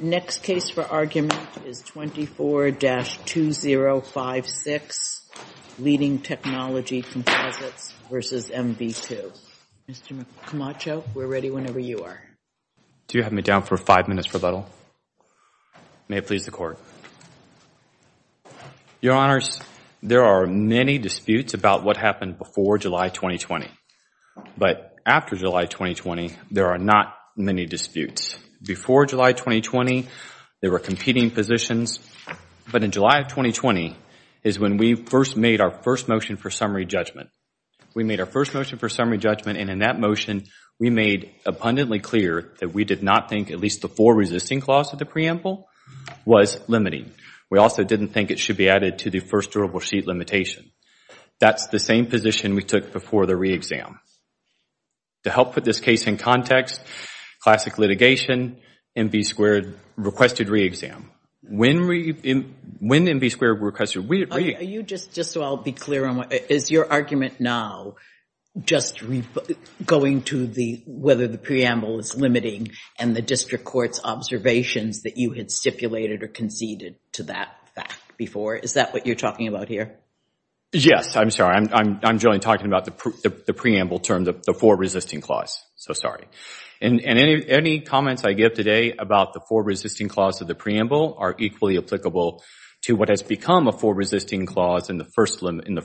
Next case for argument is 24-2056, Leading Technology Composites v. MV2. Mr. Camacho, we're ready whenever you are. Do you have me down for five minutes for rebuttal? May it please the Court. Your Honors, there are many disputes about what happened before July 2020. But after July 2020, there are not many disputes. Before July 2020, there were competing positions. But in July 2020 is when we first made our first motion for summary judgment. We made our first motion for summary judgment and in that motion, we made abundantly clear that we did not think at least the four resisting clause of the preamble was limiting. We also didn't think it should be added to the first durable sheet limitation. That's the same position we took before the re-exam. To help put this case in context, classic litigation, MV2 requested re-exam. When MV2 requested re-exam? Just so I'll be clear, is your argument now just going to whether the preamble is limiting and the district court's observations that you had stipulated or conceded to that fact before? Is that what you're talking about here? Yes, I'm sorry. I'm generally talking about the preamble term, the four resisting clause. So sorry. And any comments I give today about the four resisting clause of the preamble are equally applicable to what has become a four resisting clause in the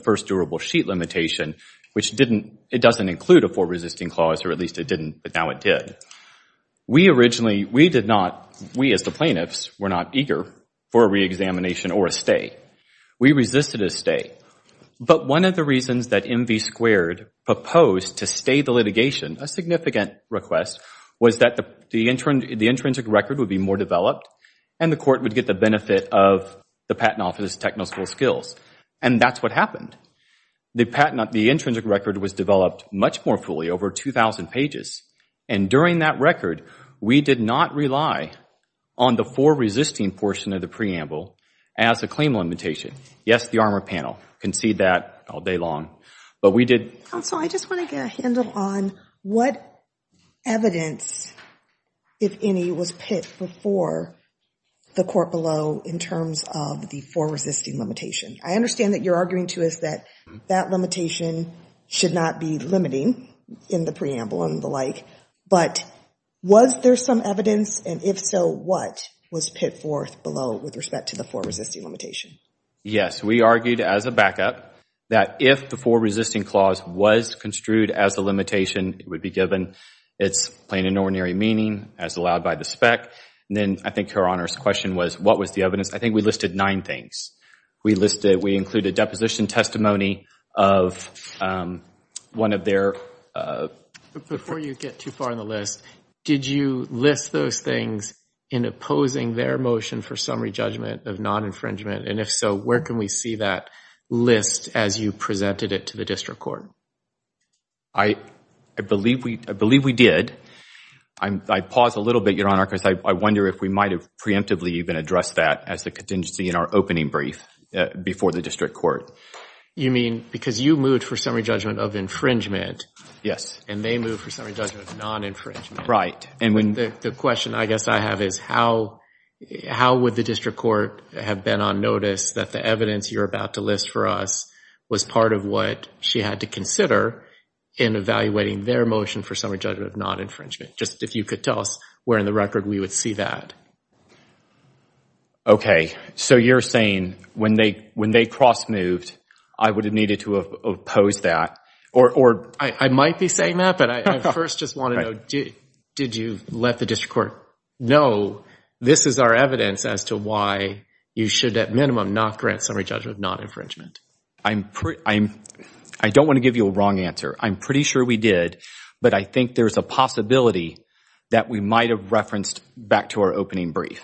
first durable sheet limitation, which didn't, it doesn't include a four resisting clause or at least it didn't, but now it did. We originally, we did not, we as the plaintiffs were not eager for a re-examination or a stay. We resisted a stay. But one of the reasons that MV2 proposed to stay the litigation, a significant request, was that the intrinsic record would be more developed and the court would get the benefit of the Patent Office's technical skills. And that's what happened. The intrinsic record was developed much more fully, over 2,000 pages. And during that record, we did not rely on the four resisting portion of the preamble as a claim limitation. Yes, the armor panel, concede that all day long. But we did. Counsel, I just want to get a handle on what evidence, if any, was pit before the court below in terms of the four resisting limitation. I understand that you're arguing to us that that limitation should not be limiting in the preamble and the like. But was there some evidence and if so, what was pit forth below with respect to the four resisting limitation? Yes, we argued as a backup that if the four resisting clause was construed as a limitation, it would be given its plain and ordinary meaning as allowed by the spec. And then I think your Honor's question was, what was the evidence? I think we listed nine things. We listed, we included deposition testimony of one of their... Before you get too far on the list, did you list those things in opposing their motion for summary judgment of non-infringement? And if so, where can we see that list as you presented it to the district court? I believe we did. I paused a little bit, Your Honor, because I wonder if we might have preemptively even addressed that as the contingency in our opening brief before the district court. You mean, because you moved for summary judgment of infringement. Yes. And they moved for summary judgment of non-infringement. Right. The question I guess I have is, how would the district court have been on notice that the evidence you're about to list for us was part of what she had to consider in evaluating their motion for summary judgment of non-infringement? Just if you could tell us where in the record we would see that. Okay. So you're saying when they cross-moved, I would have needed to have opposed that? I might be saying that, but I first just want to know, did you let the district court know this is our evidence as to why you should at minimum not grant summary judgment of non-infringement? I don't want to give you a wrong answer. I'm pretty sure we did, but I think there's a possibility that we might have referenced back to our opening brief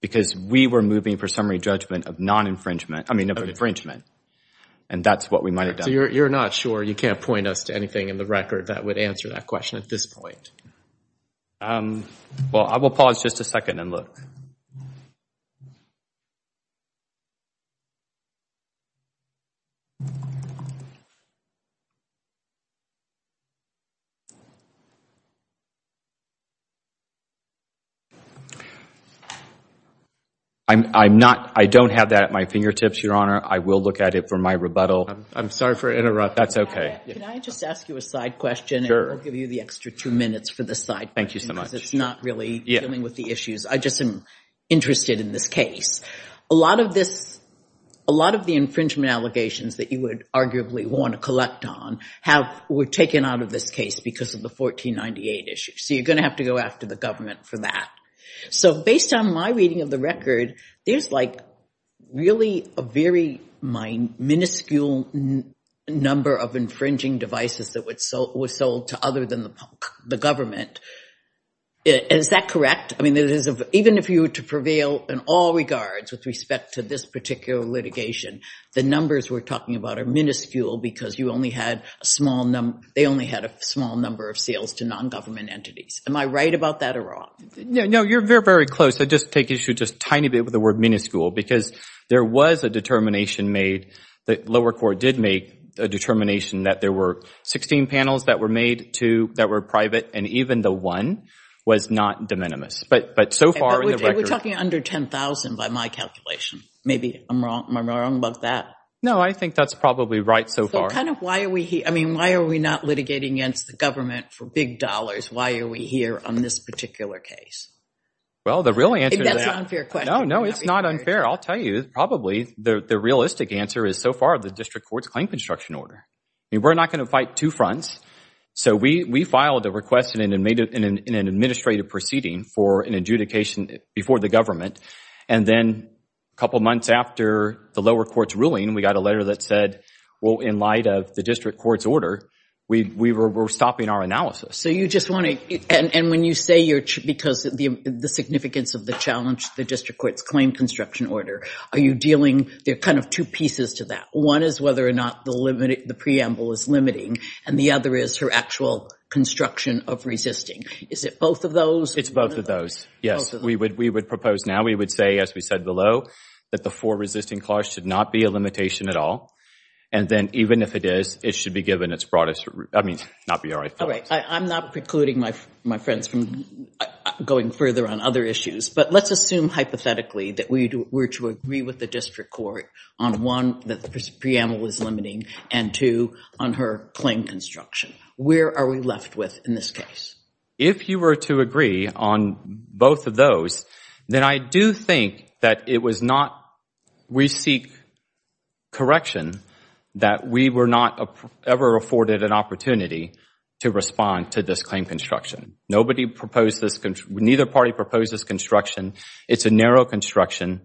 because we were moving for summary judgment of non-infringement, I mean, of infringement, and that's what we might have done. So you're not sure? You can't point us to anything in the record that would answer that question at this point? Well, I will pause just a second and look. I don't have that at my fingertips, Your Honor. I will look at it for my rebuttal. I'm sorry for interrupting. That's okay. Can I just ask you a side question? Sure. And I'll give you the extra two minutes for the side question. Thank you so much. Because it's not really dealing with the issues. I just am interested in this case. A lot of the infringement allegations that you would arguably want to collect on were taken out of this case because of the 1498 issue. So you're going to have to go after the government for that. So based on my reading of the record, there's like really a very minuscule number of infringing devices that were sold to other than the government. Is that correct? I mean, even if you were to prevail in all regards with respect to this particular litigation, the numbers we're talking about are minuscule because you only had a small number – they only had a small number of sales to non-government entities. Am I right about that or wrong? No. You're very, very close. Just take issue just a tiny bit with the word minuscule because there was a determination made – the lower court did make a determination that there were 16 panels that were made to – that were private and even the one was not de minimis. But so far in the record – We're talking under 10,000 by my calculation. Maybe I'm wrong about that. No, I think that's probably right so far. So kind of why are we – I mean, why are we not litigating against the government for big dollars? Why are we here on this particular case? Well, the real answer to that – I think that's an unfair question. No, no. It's not unfair. I'll tell you. Probably the realistic answer is so far the district court's claim construction order. We're not going to fight two fronts. So we filed a request in an administrative proceeding for an adjudication before the government. And then a couple of months after the lower court's ruling, we got a letter that said, well, in light of the district court's order, we were stopping our analysis. So you just want to – and when you say you're – because the significance of the challenge, the district court's claim construction order, are you dealing – there are kind of two pieces to that. One is whether or not the preamble is limiting. And the other is her actual construction of resisting. Is it both of those? It's both of those. Yes. We would propose now. We would say, as we said below, that the four resisting clause should not be a limitation at all. And then, even if it is, it should be given its broadest – I mean, not be our – All right. I'm not precluding my friends from going further on other issues. But let's assume hypothetically that we were to agree with the district court on, one, that the preamble is limiting, and, two, on her claim construction. Where are we left with in this case? If you were to agree on both of those, then I do think that it was not – we seek correction that we were not ever afforded an opportunity to respond to this claim construction. Nobody proposed this – neither party proposed this construction. It's a narrow construction.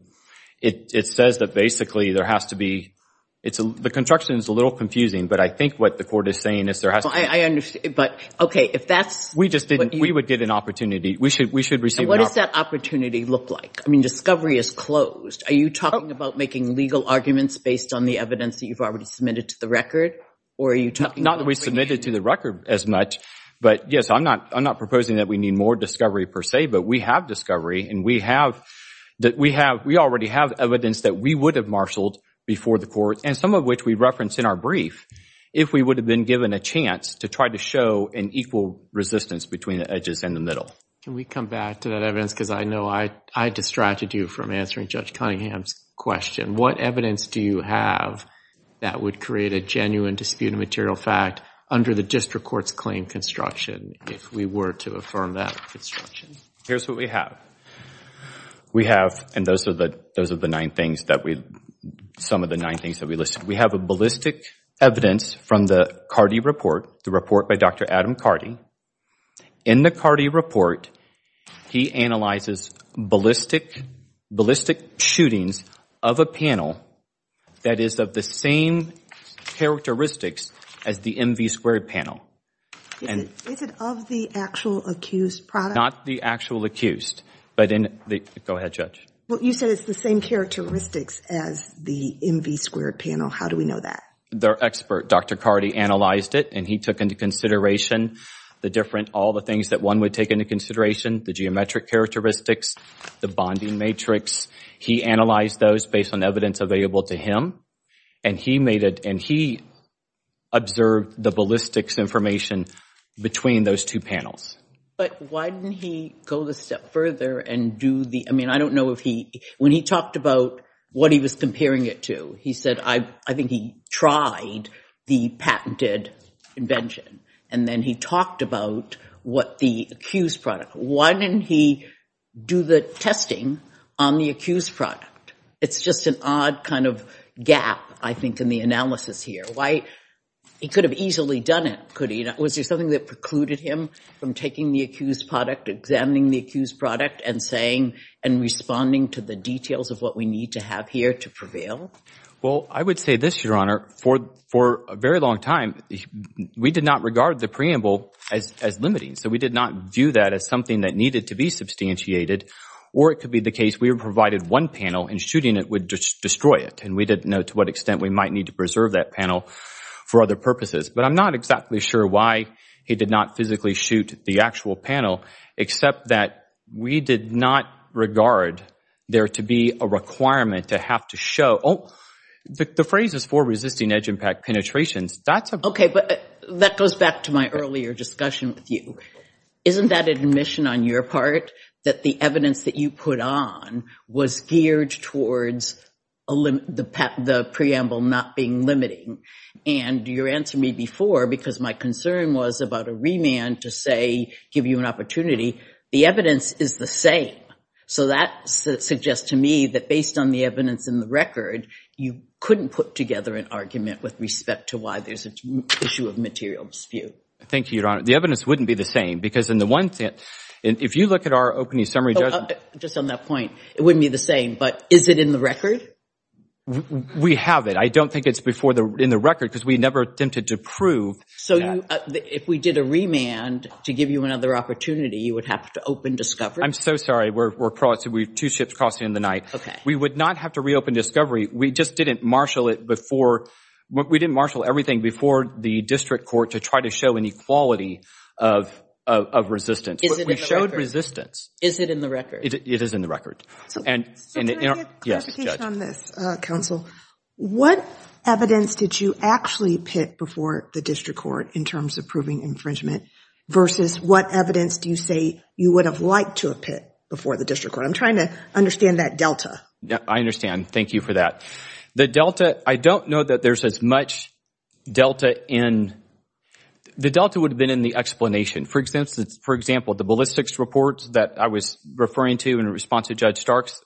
It says that, basically, there has to be – the construction is a little confusing, but I think what the court is saying is there has to be – No, I understand. But, okay, if that's – We just didn't – we would get an opportunity. We should – And what does that opportunity look like? I mean, discovery is closed. Are you talking about making legal arguments based on the evidence that you've already submitted to the record? Or are you talking about – Not that we submitted to the record as much. But, yes, I'm not proposing that we need more discovery, per se. But we have discovery, and we have – we already have evidence that we would have marshaled before the court, and some of which we referenced in our brief, if we would have been given a chance to try to show an equal resistance between the edges and the middle. Can we come back to that evidence? Because I know I distracted you from answering Judge Cunningham's question. What evidence do you have that would create a genuine dispute of material fact under the district court's claim construction, if we were to affirm that construction? Here's what we have. We have – and those are the nine things that we – some of the nine things that we listed. We have a ballistic evidence from the Carty report, the report by Dr. Adam Carty. In the Carty report, he analyzes ballistic shootings of a panel that is of the same characteristics as the MV squared panel. Is it of the actual accused product? Not the actual accused, but in the – go ahead, Judge. Well, you said it's the same characteristics as the MV squared panel. How do we know that? Their expert, Dr. Carty, analyzed it, and he took into consideration the different – all the things that one would take into consideration, the geometric characteristics, the bonding matrix. He analyzed those based on evidence available to him, and he made it – and he observed the ballistics information between those two panels. But why didn't he go the step further and do the – I mean, I don't know if he – when he talked about what he was comparing it to, he said, I think he tried the patented invention, and then he talked about what the accused product – why didn't he do the testing on the accused product? It's just an odd kind of gap, I think, in the analysis here. Why – he could have easily done it, could he not? Was there something that precluded him from taking the accused product, examining the accused product, and saying and responding to the details of what we need to have here to prevail? Well, I would say this, Your Honor. For a very long time, we did not regard the preamble as limiting, so we did not view that as something that needed to be substantiated, or it could be the case we provided one panel and shooting it would destroy it, and we didn't know to what extent we might need to preserve that panel for other purposes. But I'm not exactly sure why he did not physically shoot the actual panel, except that we did not regard there to be a requirement to have to show – oh, the phrase is for resisting edge impact penetrations. That's a – Okay, but that goes back to my earlier discussion with you. Isn't that admission on your part that the evidence that you put on was geared towards the preamble not being limiting? And you answered me before because my concern was about a remand to, say, give you an opportunity. The evidence is the same. So that suggests to me that based on the evidence in the record, you couldn't put together an argument with respect to why there's an issue of material dispute. Thank you, Your Honor. The evidence wouldn't be the same because in the one – if you look at our opening summary judgment – Just on that point, it wouldn't be the same, but is it in the record? We have it. I don't think it's in the record because we never attempted to prove that. So if we did a remand to give you another opportunity, you would have to open discovery? I'm so sorry. We're – two ships crossing in the night. We would not have to reopen discovery. We just didn't marshal it before – we didn't marshal everything before the district court to try to show any quality of resistance. Is it in the record? We showed resistance. Is it in the record? It is in the record. So can I get clarification on this, counsel? What evidence did you actually pit before the district court in terms of proving infringement versus what evidence do you say you would have liked to have pit before the district court? I'm trying to understand that delta. I understand. Thank you for that. The delta – I don't know that there's as much delta in – the delta would have been in the explanation. For example, the ballistics reports that I was referring to in response to Judge Stark's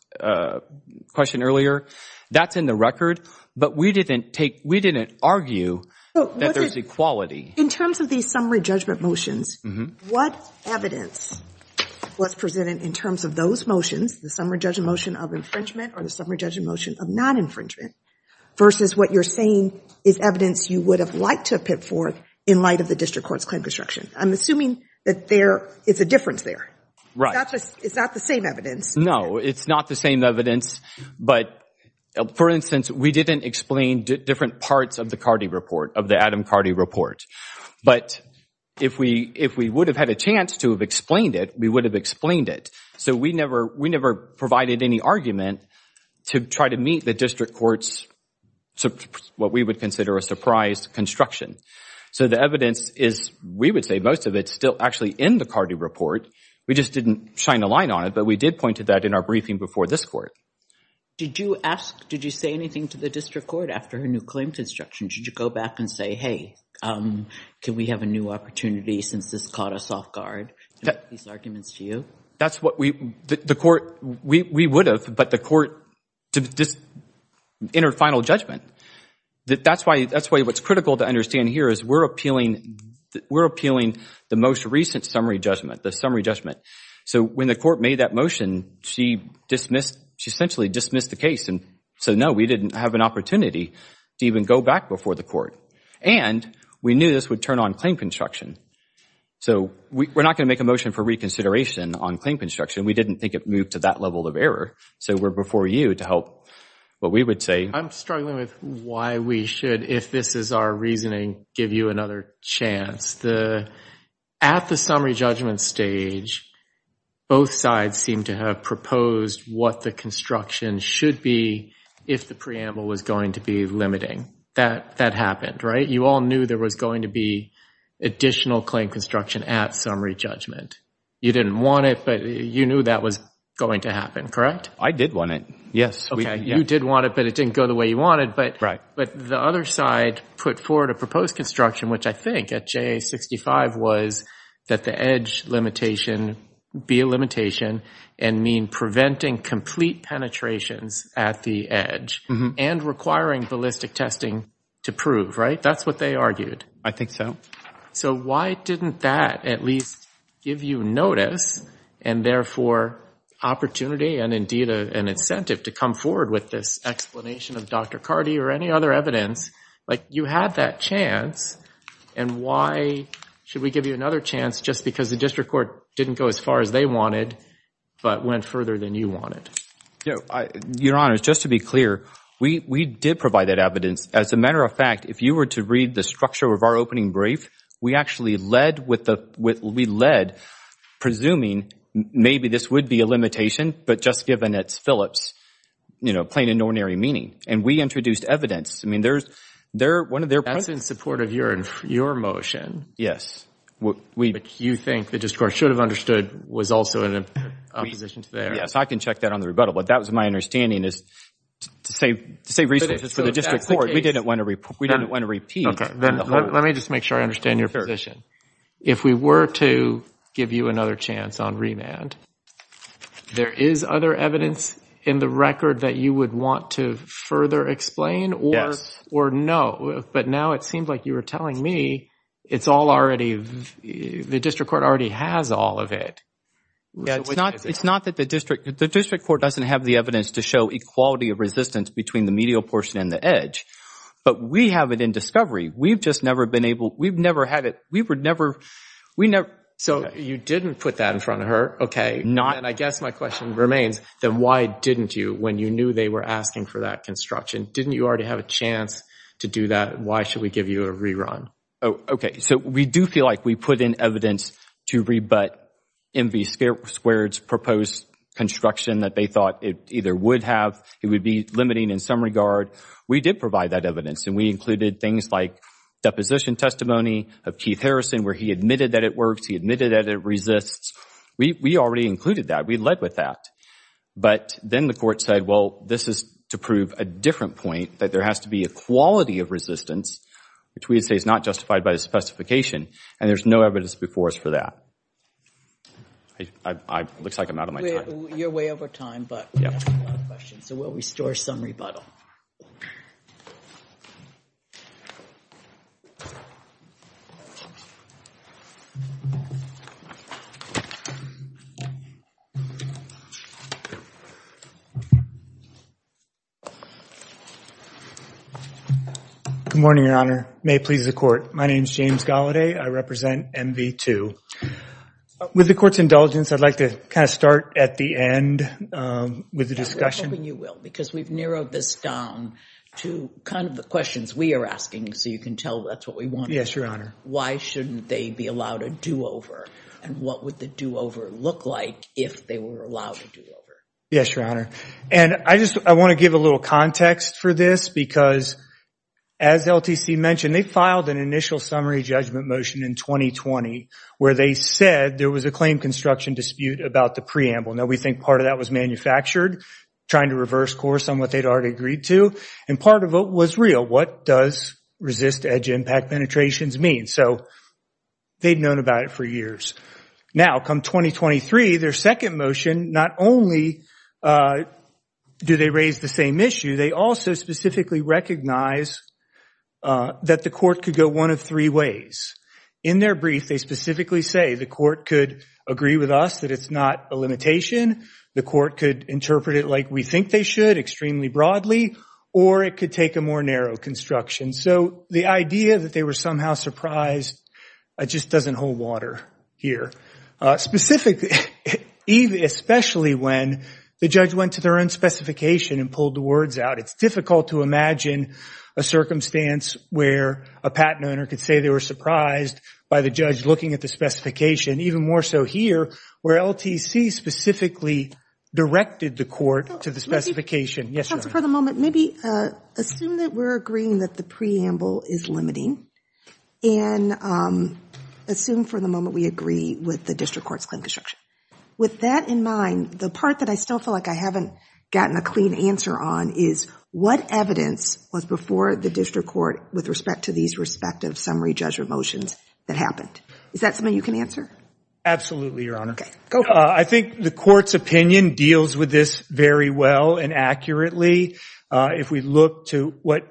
question earlier, that's in the record, but we didn't take – we didn't argue that there's equality. In terms of these summary judgment motions, what evidence was presented in terms of those motions, the summary judgment motion of infringement or the summary judgment motion of non-infringement, versus what you're saying is evidence you would have liked to have pit for in light of the district court's claim construction? I'm assuming that there – it's a difference there. Right. It's not the same evidence. No, it's not the same evidence. But, for instance, we didn't explain different parts of the Cardi report, of the Adam Cardi report. But if we would have had a chance to have explained it, we would have explained it. So we never provided any argument to try to meet the district court's – what we would consider a surprise construction. So the evidence is – we would say most of it's still actually in the Cardi report. We just didn't shine a light on it. But we did point to that in our briefing before this court. Did you ask – did you say anything to the district court after her new claim construction? Did you go back and say, hey, can we have a new opportunity since this caught us off guard, to make these arguments to you? That's what we – the court – we would have, but the court – this inner final judgment. That's why – that's why what's critical to understand here is we're appealing – we're appealing the most recent summary judgment, the summary judgment. So when the court made that motion, she dismissed – she essentially dismissed the case and said, no, we didn't have an opportunity to even go back before the court. And we knew this would turn on claim construction. So we're not going to make a motion for reconsideration on claim construction. We didn't think it moved to that level of error. So we're before you to help what we would say. I'm struggling with why we should, if this is our reasoning, give you another chance. At the summary judgment stage, both sides seem to have proposed what the construction should be if the preamble was going to be limiting. That happened, right? You all knew there was going to be additional claim construction at summary judgment. You didn't want it, but you knew that was going to happen, correct? I did want it, yes. You did want it, but it didn't go the way you wanted. But the other side put forward a proposed construction, which I think at JA-65 was that the edge limitation be a limitation and mean preventing complete penetrations at the edge and requiring ballistic testing to prove, right? That's what they argued. I think so. So why didn't that at least give you notice and therefore opportunity and indeed an incentive to come forward with this explanation of Dr. Carty or any other evidence? You had that chance, and why should we give you another chance just because the district court didn't go as far as they wanted but went further than you wanted? Your Honor, just to be clear, we did provide that evidence. As a matter of fact, if you were to read the structure of our opening brief, we actually led presuming maybe this would be a limitation, but just given it's Phillips plain and ordinary meaning. And we introduced evidence. That's in support of your motion. Yes. But you think the district court should have understood was also in opposition to theirs. Yes, I can check that on the rebuttal. But that was my understanding is to save resources for the district court. We didn't want to repeat. Let me just make sure I understand your position. If we were to give you another chance on remand, there is other evidence in the record that you would want to further explain or no. But now it seems like you were telling me it's all already, the district court already has all of it. It's not that the district court doesn't have the evidence to show equality of resistance between the medial portion and the edge. But we have it in discovery. We've just never been able. We've never had it. We would never. We never. So you didn't put that in front of her. Okay, not. And I guess my question remains. Then why didn't you when you knew they were asking for that construction? Didn't you already have a chance to do that? Why should we give you a rerun? Okay. So we do feel like we put in evidence to rebut M.V. Squared's proposed construction that they thought it either would have. It would be limiting in some regard. We did provide that evidence, and we included things like deposition testimony of Keith Harrison where he admitted that it works. He admitted that it resists. We already included that. We led with that. But then the court said, well, this is to prove a different point, that there has to be equality of resistance, which we would say is not justified by the specification, and there's no evidence before us for that. It looks like I'm out of my time. You're way over time, but we have a lot of questions. So we'll restore some rebuttal. Good morning, Your Honor. May it please the court. My name is James Gallaudet. I represent M.V. 2. With the court's indulgence, I'd like to kind of start at the end with the discussion. I'm hoping you will because we've narrowed this down to kind of the questions we are asking, so you can tell that's what we want to know. Why shouldn't they be allowed a do-over, and what would the do-over look like if they were allowed a do-over? Yes, Your Honor. And I want to give a little context for this because, as LTC mentioned, they filed an initial summary judgment motion in 2020 where they said there was a claim construction dispute about the preamble. Now, we think part of that was manufactured, trying to reverse course on what they'd already agreed to, and part of it was real. What does resist edge impact penetrations mean? So they'd known about it for years. Now, come 2023, their second motion, not only do they raise the same issue, they also specifically recognize that the court could go one of three ways. In their brief, they specifically say the court could agree with us that it's not a limitation, the court could interpret it like we think they should, extremely broadly, or it could take a more narrow construction. So the idea that they were somehow surprised just doesn't hold water here, especially when the judge went to their own specification and pulled the words out. It's difficult to imagine a circumstance where a patent owner could say they were surprised by the judge looking at the specification, even more so here, where LTC specifically directed the court to the specification. Yes, Your Honor. Counsel, for the moment, maybe assume that we're agreeing that the preamble is limiting and assume for the moment we agree with the district court's claim construction. With that in mind, the part that I still feel like I haven't gotten a clean answer on is what evidence was before the district court with respect to these respective summary judgment motions that happened? Is that something you can answer? Absolutely, Your Honor. Okay, go for it. I think the court's opinion deals with this very well and accurately. If we look to what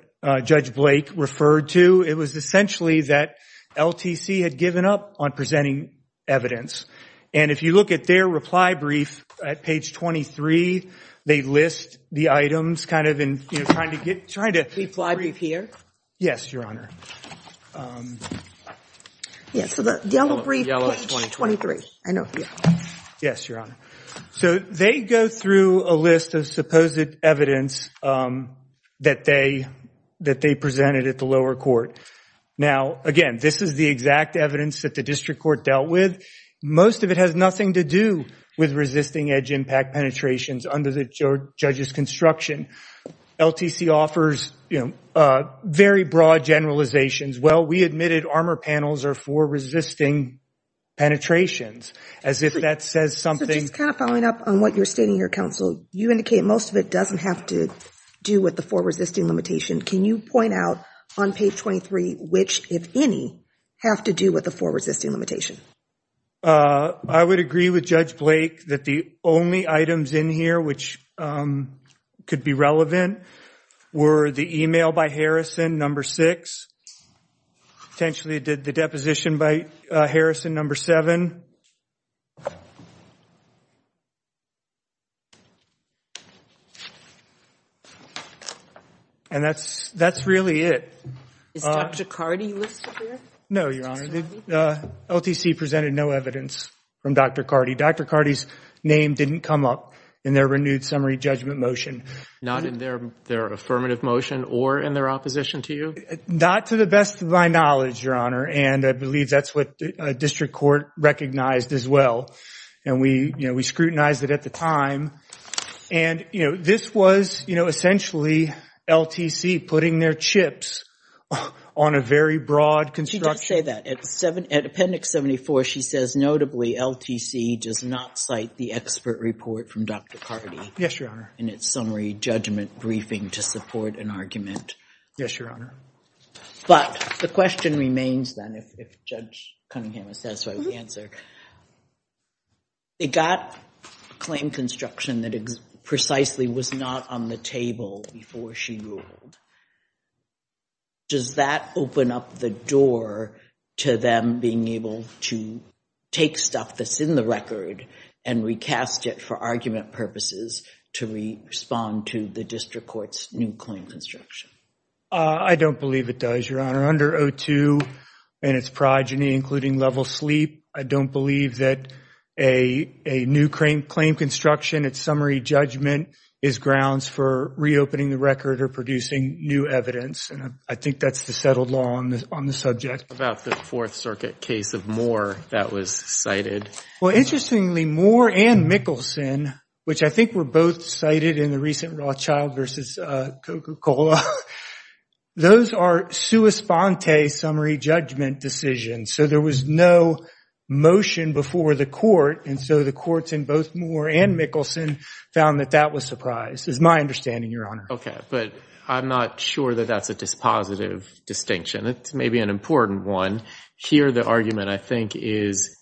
Judge Blake referred to, it was essentially that LTC had given up on presenting evidence. And if you look at their reply brief at page 23, they list the items kind of in trying to get- Reply brief here? Yes, Your Honor. Yes, so the yellow brief page 23. Yes, Your Honor. So they go through a list of supposed evidence that they presented at the lower court. Now, again, this is the exact evidence that the district court dealt with. Most of it has nothing to do with resisting edge impact penetrations under the judge's construction. LTC offers, you know, very broad generalizations. Well, we admitted armor panels are for resisting penetrations. As if that says something- So just kind of following up on what you're stating here, counsel, you indicate most of it doesn't have to do with the four resisting limitation. Can you point out on page 23 which, if any, have to do with the four resisting limitation? I would agree with Judge Blake that the only items in here which could be relevant were the email by Harrison, number six. Potentially the deposition by Harrison, number seven. And that's really it. Is Dr. Cardi listed here? No, Your Honor. LTC presented no evidence from Dr. Cardi. Dr. Cardi's name didn't come up in their renewed summary judgment motion. Not in their affirmative motion or in their opposition to you? Not to the best of my knowledge, Your Honor, and I believe that's what district court recognized as well. And we, you know, we scrutinized it at the time. And, you know, this was, you know, essentially LTC putting their chips on a very broad construction. She does say that. At Appendix 74, she says, notably, LTC does not cite the expert report from Dr. Cardi. Yes, Your Honor. In its summary judgment briefing to support an argument. Yes, Your Honor. But the question remains, then, if Judge Cunningham is satisfied with the answer. They got a claim construction that precisely was not on the table before she ruled. Does that open up the door to them being able to take stuff that's in the record and recast it for argument purposes to respond to the district court's new claim construction? I don't believe it does, Your Honor. Under O2 and its progeny, including level sleep, I don't believe that a new claim construction, its summary judgment, is grounds for reopening the record or producing new evidence. And I think that's the settled law on the subject. What about the Fourth Circuit case of Moore that was cited? Well, interestingly, Moore and Mickelson, which I think were both cited in the recent Rothschild versus Coca-Cola, those are sua sponte summary judgment decisions. So there was no motion before the court. And so the courts in both Moore and Mickelson found that that was surprised, is my understanding, Your Honor. Okay. But I'm not sure that that's a dispositive distinction. It's maybe an important one. Here the argument, I think, is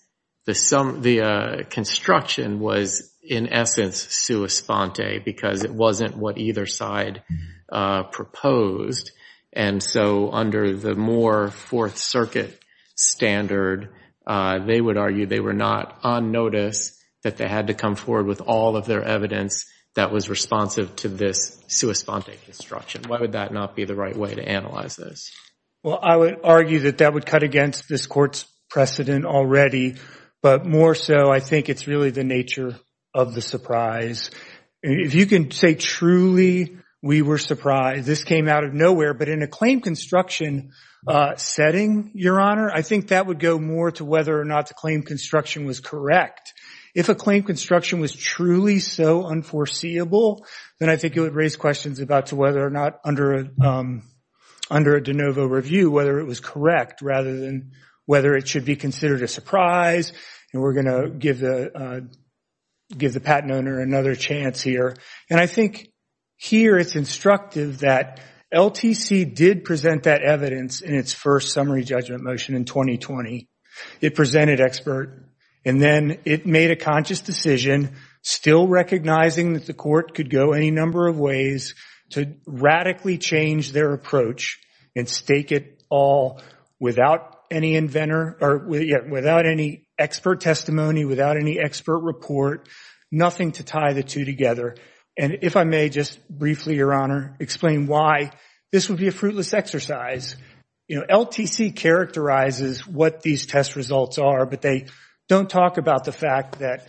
the construction was in essence sua sponte because it wasn't what either side proposed. And so under the Moore Fourth Circuit standard, they would argue they were not on notice that they had to come forward with all of their evidence that was responsive to this sua sponte construction. Why would that not be the right way to analyze this? Well, I would argue that that would cut against this court's precedent already. But more so, I think it's really the nature of the surprise. If you can say truly we were surprised, this came out of nowhere. But in a claim construction setting, Your Honor, I think that would go more to whether or not the claim construction was correct. If a claim construction was truly so unforeseeable, then I think it would raise questions about to whether or not under a de novo review, whether it was correct rather than whether it should be considered a surprise. And we're going to give the patent owner another chance here. And I think here it's instructive that LTC did present that evidence in its first summary judgment motion in 2020. It presented expert. And then it made a conscious decision, still recognizing that the court could go any number of ways to radically change their approach and stake it all without any expert testimony, without any expert report, nothing to tie the two together. And if I may just briefly, Your Honor, explain why this would be a fruitless exercise. LTC characterizes what these test results are, but they don't talk about the fact that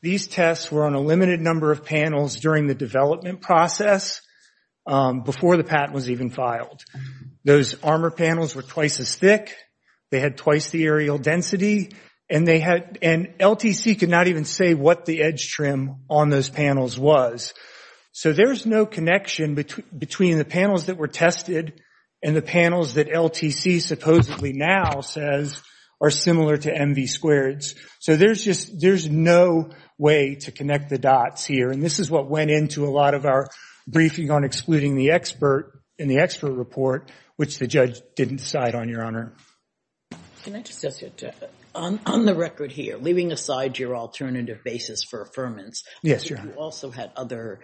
these tests were on a limited number of panels during the development process before the patent was even filed. Those armor panels were twice as thick. They had twice the aerial density. And LTC could not even say what the edge trim on those panels was. So there's no connection between the panels that were tested and the panels that LTC supposedly now says are similar to MV squareds. So there's no way to connect the dots here. And this is what went into a lot of our briefing on excluding the expert in the expert report, which the judge didn't decide on, Your Honor. Can I just add to that? On the record here, leaving aside your alternative basis for affirmance, you also had other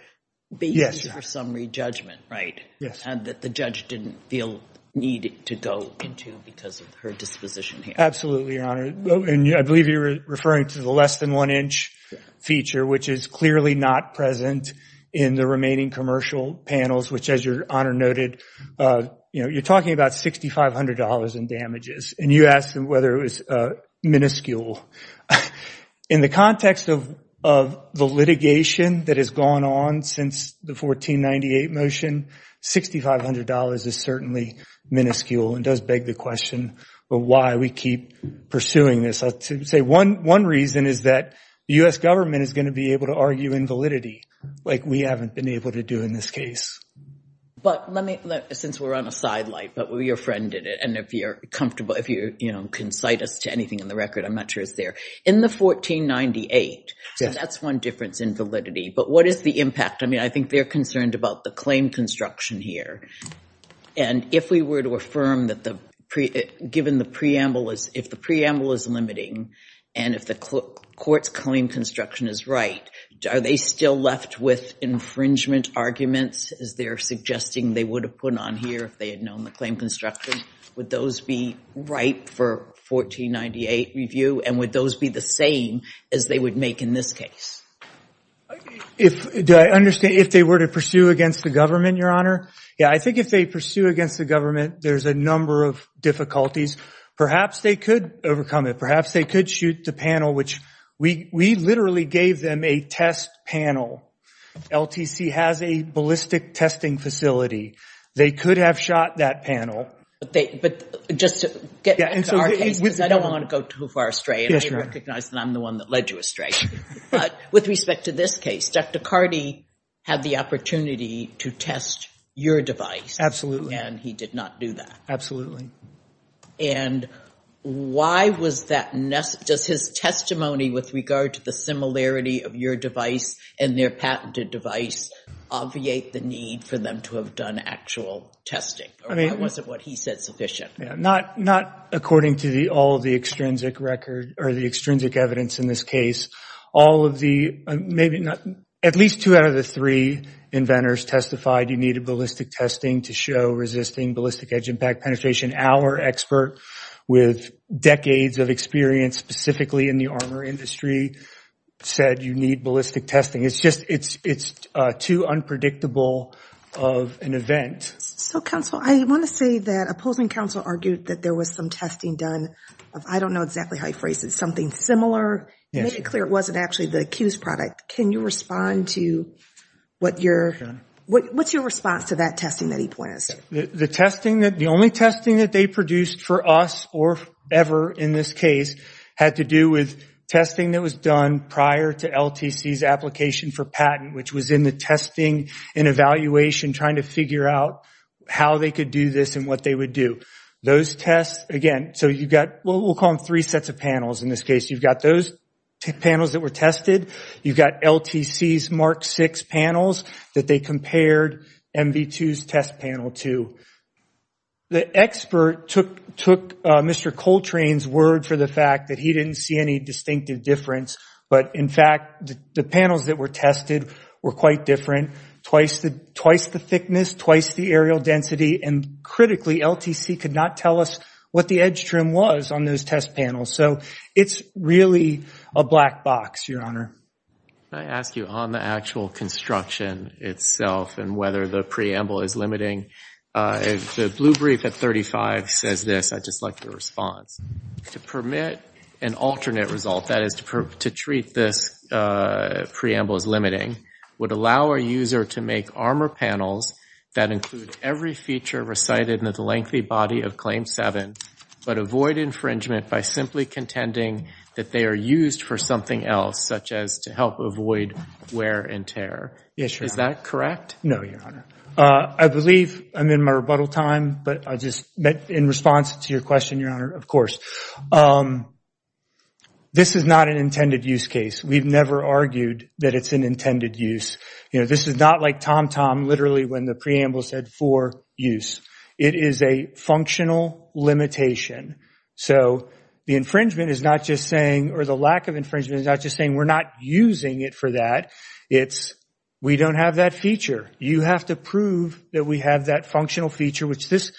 basis for summary judgment, right? And that the judge didn't feel the need to go into because of her disposition here. Absolutely, Your Honor. And I believe you're referring to the less than one inch feature, which is clearly not present in the remaining commercial panels, which, as Your Honor noted, you're talking about $6,500 in damages. And you asked whether it was minuscule. In the context of the litigation that has gone on since the 1498 motion, $6,500 is certainly minuscule and does beg the question of why we keep pursuing this. I'll say one reason is that the U.S. government is going to be able to argue in validity like we haven't been able to do in this case. But let me, since we're on a sideline, but we're your friend in it, and if you're comfortable, if you, you know, you can cite us to anything in the record, I'm not sure it's there. In the 1498, that's one difference in validity. But what is the impact? I mean, I think they're concerned about the claim construction here. And if we were to affirm that the preamble is limiting and if the court's claim construction is right, are they still left with infringement arguments as they're suggesting they would have put on here if they had known the claim construction? Would those be right for 1498 review? And would those be the same as they would make in this case? Do I understand, if they were to pursue against the government, Your Honor? Yeah, I think if they pursue against the government, there's a number of difficulties. Perhaps they could overcome it. Perhaps they could shoot the panel, which we literally gave them a test panel. LTC has a ballistic testing facility. They could have shot that panel. But just to get back to our case, because I don't want to go too far astray, and I recognize that I'm the one that led you astray. But with respect to this case, Dr. Carty had the opportunity to test your device. And he did not do that. Absolutely. And why was that necessary? Does his testimony with regard to the similarity of your device and their patented device obviate the need for them to have done actual testing? Or was it what he said sufficient? Not according to all of the extrinsic record or the extrinsic evidence in this case. All of the—at least two out of the three inventors testified you needed ballistic testing to show resisting ballistic edge impact penetration. Our expert, with decades of experience specifically in the armor industry, said you need ballistic testing. It's just—it's too unpredictable of an event. So, counsel, I want to say that opposing counsel argued that there was some testing done. I don't know exactly how you phrased it. Something similar? Yes. Made it clear it wasn't actually the Q's product. Can you respond to what your—what's your response to that testing that he points to? The testing that—the only testing that they produced for us or ever in this case had to do with testing that was done prior to LTC's application for patent, which was in the testing and evaluation trying to figure out how they could do this and what they would do. Those tests—again, so you've got what we'll call three sets of panels in this case. You've got those panels that were tested. You've got LTC's Mark VI panels that they compared MV2's test panel to. The expert took Mr. Coltrane's word for the fact that he didn't see any distinctive difference, but, in fact, the panels that were tested were quite different, twice the thickness, twice the aerial density, and, critically, LTC could not tell us what the edge trim was on those test panels. So it's really a black box, Your Honor. Can I ask you on the actual construction itself and whether the preamble is limiting? The blue brief at 35 says this. I'd just like the response. To permit an alternate result, that is to treat this preamble as limiting, would allow a user to make armor panels that include every feature recited in the lengthy body of Claim 7 but avoid infringement by simply contending that they are used for something else, such as to help avoid wear and tear. Yes, Your Honor. Is that correct? No, Your Honor. I believe I'm in my rebuttal time, but I just— In response to your question, Your Honor, of course. This is not an intended use case. We've never argued that it's an intended use. This is not like TomTom literally when the preamble said for use. It is a functional limitation. So the infringement is not just saying, or the lack of infringement is not just saying, we're not using it for that. It's we don't have that feature. You have to prove that we have that functional feature, which this—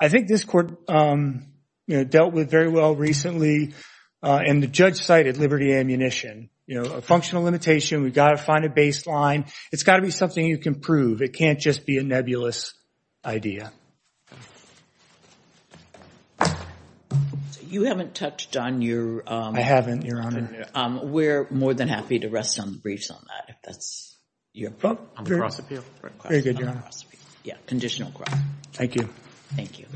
I think this court dealt with very well recently, and the judge cited Liberty Ammunition. A functional limitation, we've got to find a baseline. It's got to be something you can prove. It can't just be a nebulous idea. You haven't touched on your— I haven't, Your Honor. We're more than happy to rest on the briefs on that, if that's your— On the cross appeal? Very good, Your Honor. Yeah, conditional cross. Thank you. Thank you.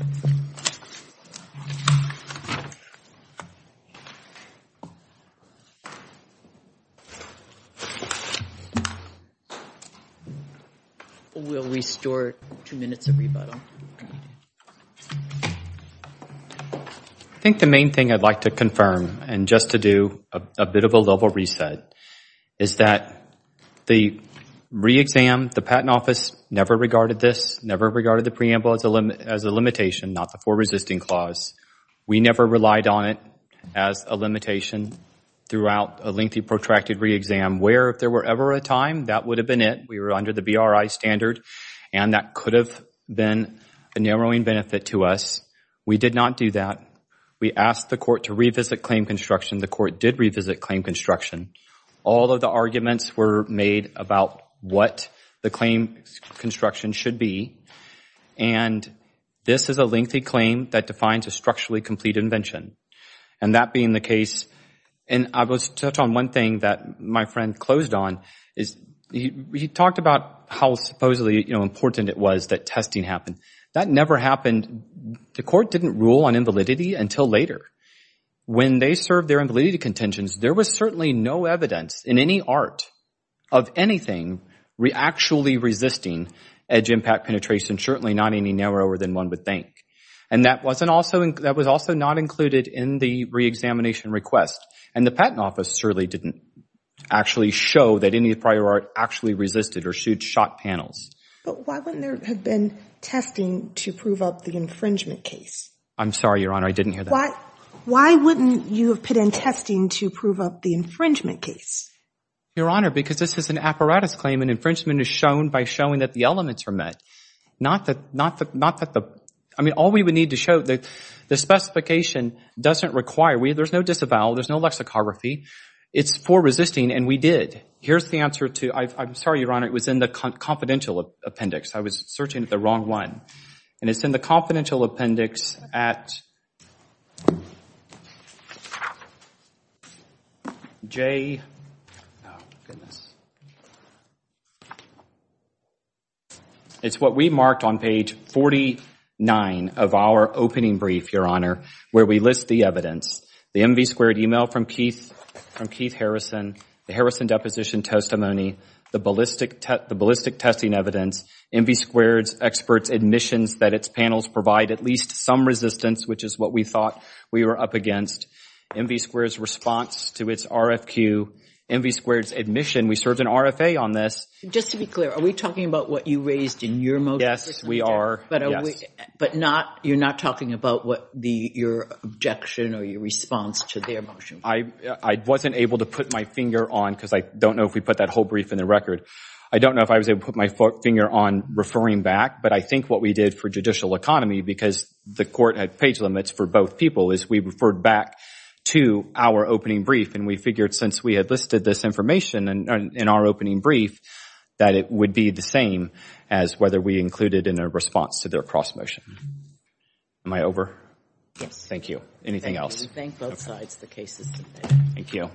We'll restore two minutes of rebuttal. I think the main thing I'd like to confirm, and just to do a bit of a level reset, is that the re-exam, the Patent Office never regarded this, never regarded the preamble as a limitation, not the for resisting clause. We never relied on it as a limitation throughout a lengthy, protracted re-exam, where if there were ever a time, that would have been it. We were under the BRI standard, and that could have been a narrowing benefit to us. We did not do that. We asked the court to revisit claim construction. The court did revisit claim construction. All of the arguments were made about what the claim construction should be, and this is a lengthy claim that defines a structurally complete invention. And that being the case, and I will touch on one thing that my friend closed on, is he talked about how supposedly important it was that testing happened. That never happened. The court didn't rule on invalidity until later. When they served their invalidity contentions, there was certainly no evidence in any art of anything actually resisting edge impact penetration, certainly not any narrower than one would think. And that was also not included in the re-examination request, and the Patent Office certainly didn't actually show that any prior art actually resisted or shot panels. But why wouldn't there have been testing to prove up the infringement case? I'm sorry, Your Honor, I didn't hear that. Why wouldn't you have put in testing to prove up the infringement case? Your Honor, because this is an apparatus claim, and infringement is shown by showing that the elements are met, not that the – I mean, all we would need to show, the specification doesn't require – there's no disavowal, there's no lexicography. It's for resisting, and we did. Here's the answer to – I'm sorry, Your Honor, it was in the confidential appendix. I was searching the wrong one. And it's in the confidential appendix at J – oh, goodness. It's what we marked on page 49 of our opening brief, Your Honor, where we list the evidence. The MV squared email from Keith Harrison, the Harrison deposition testimony, the ballistic testing evidence, MV squared's expert's admissions that its panels provide at least some resistance, which is what we thought we were up against, MV squared's response to its RFQ, MV squared's admission. We served an RFA on this. Just to be clear, are we talking about what you raised in your motion? Yes, we are, yes. But not – you're not talking about what your objection or your response to their motion was? I wasn't able to put my finger on, because I don't know if we put that whole brief in the record. I don't know if I was able to put my finger on referring back, but I think what we did for judicial economy, because the court had page limits for both people, is we referred back to our opening brief, and we figured since we had listed this information in our opening brief, that it would be the same as whether we included in our response to their cross-motion. Am I over? Yes. Thank you. Anything else? Thank you. Thank both sides, the cases. Thank you.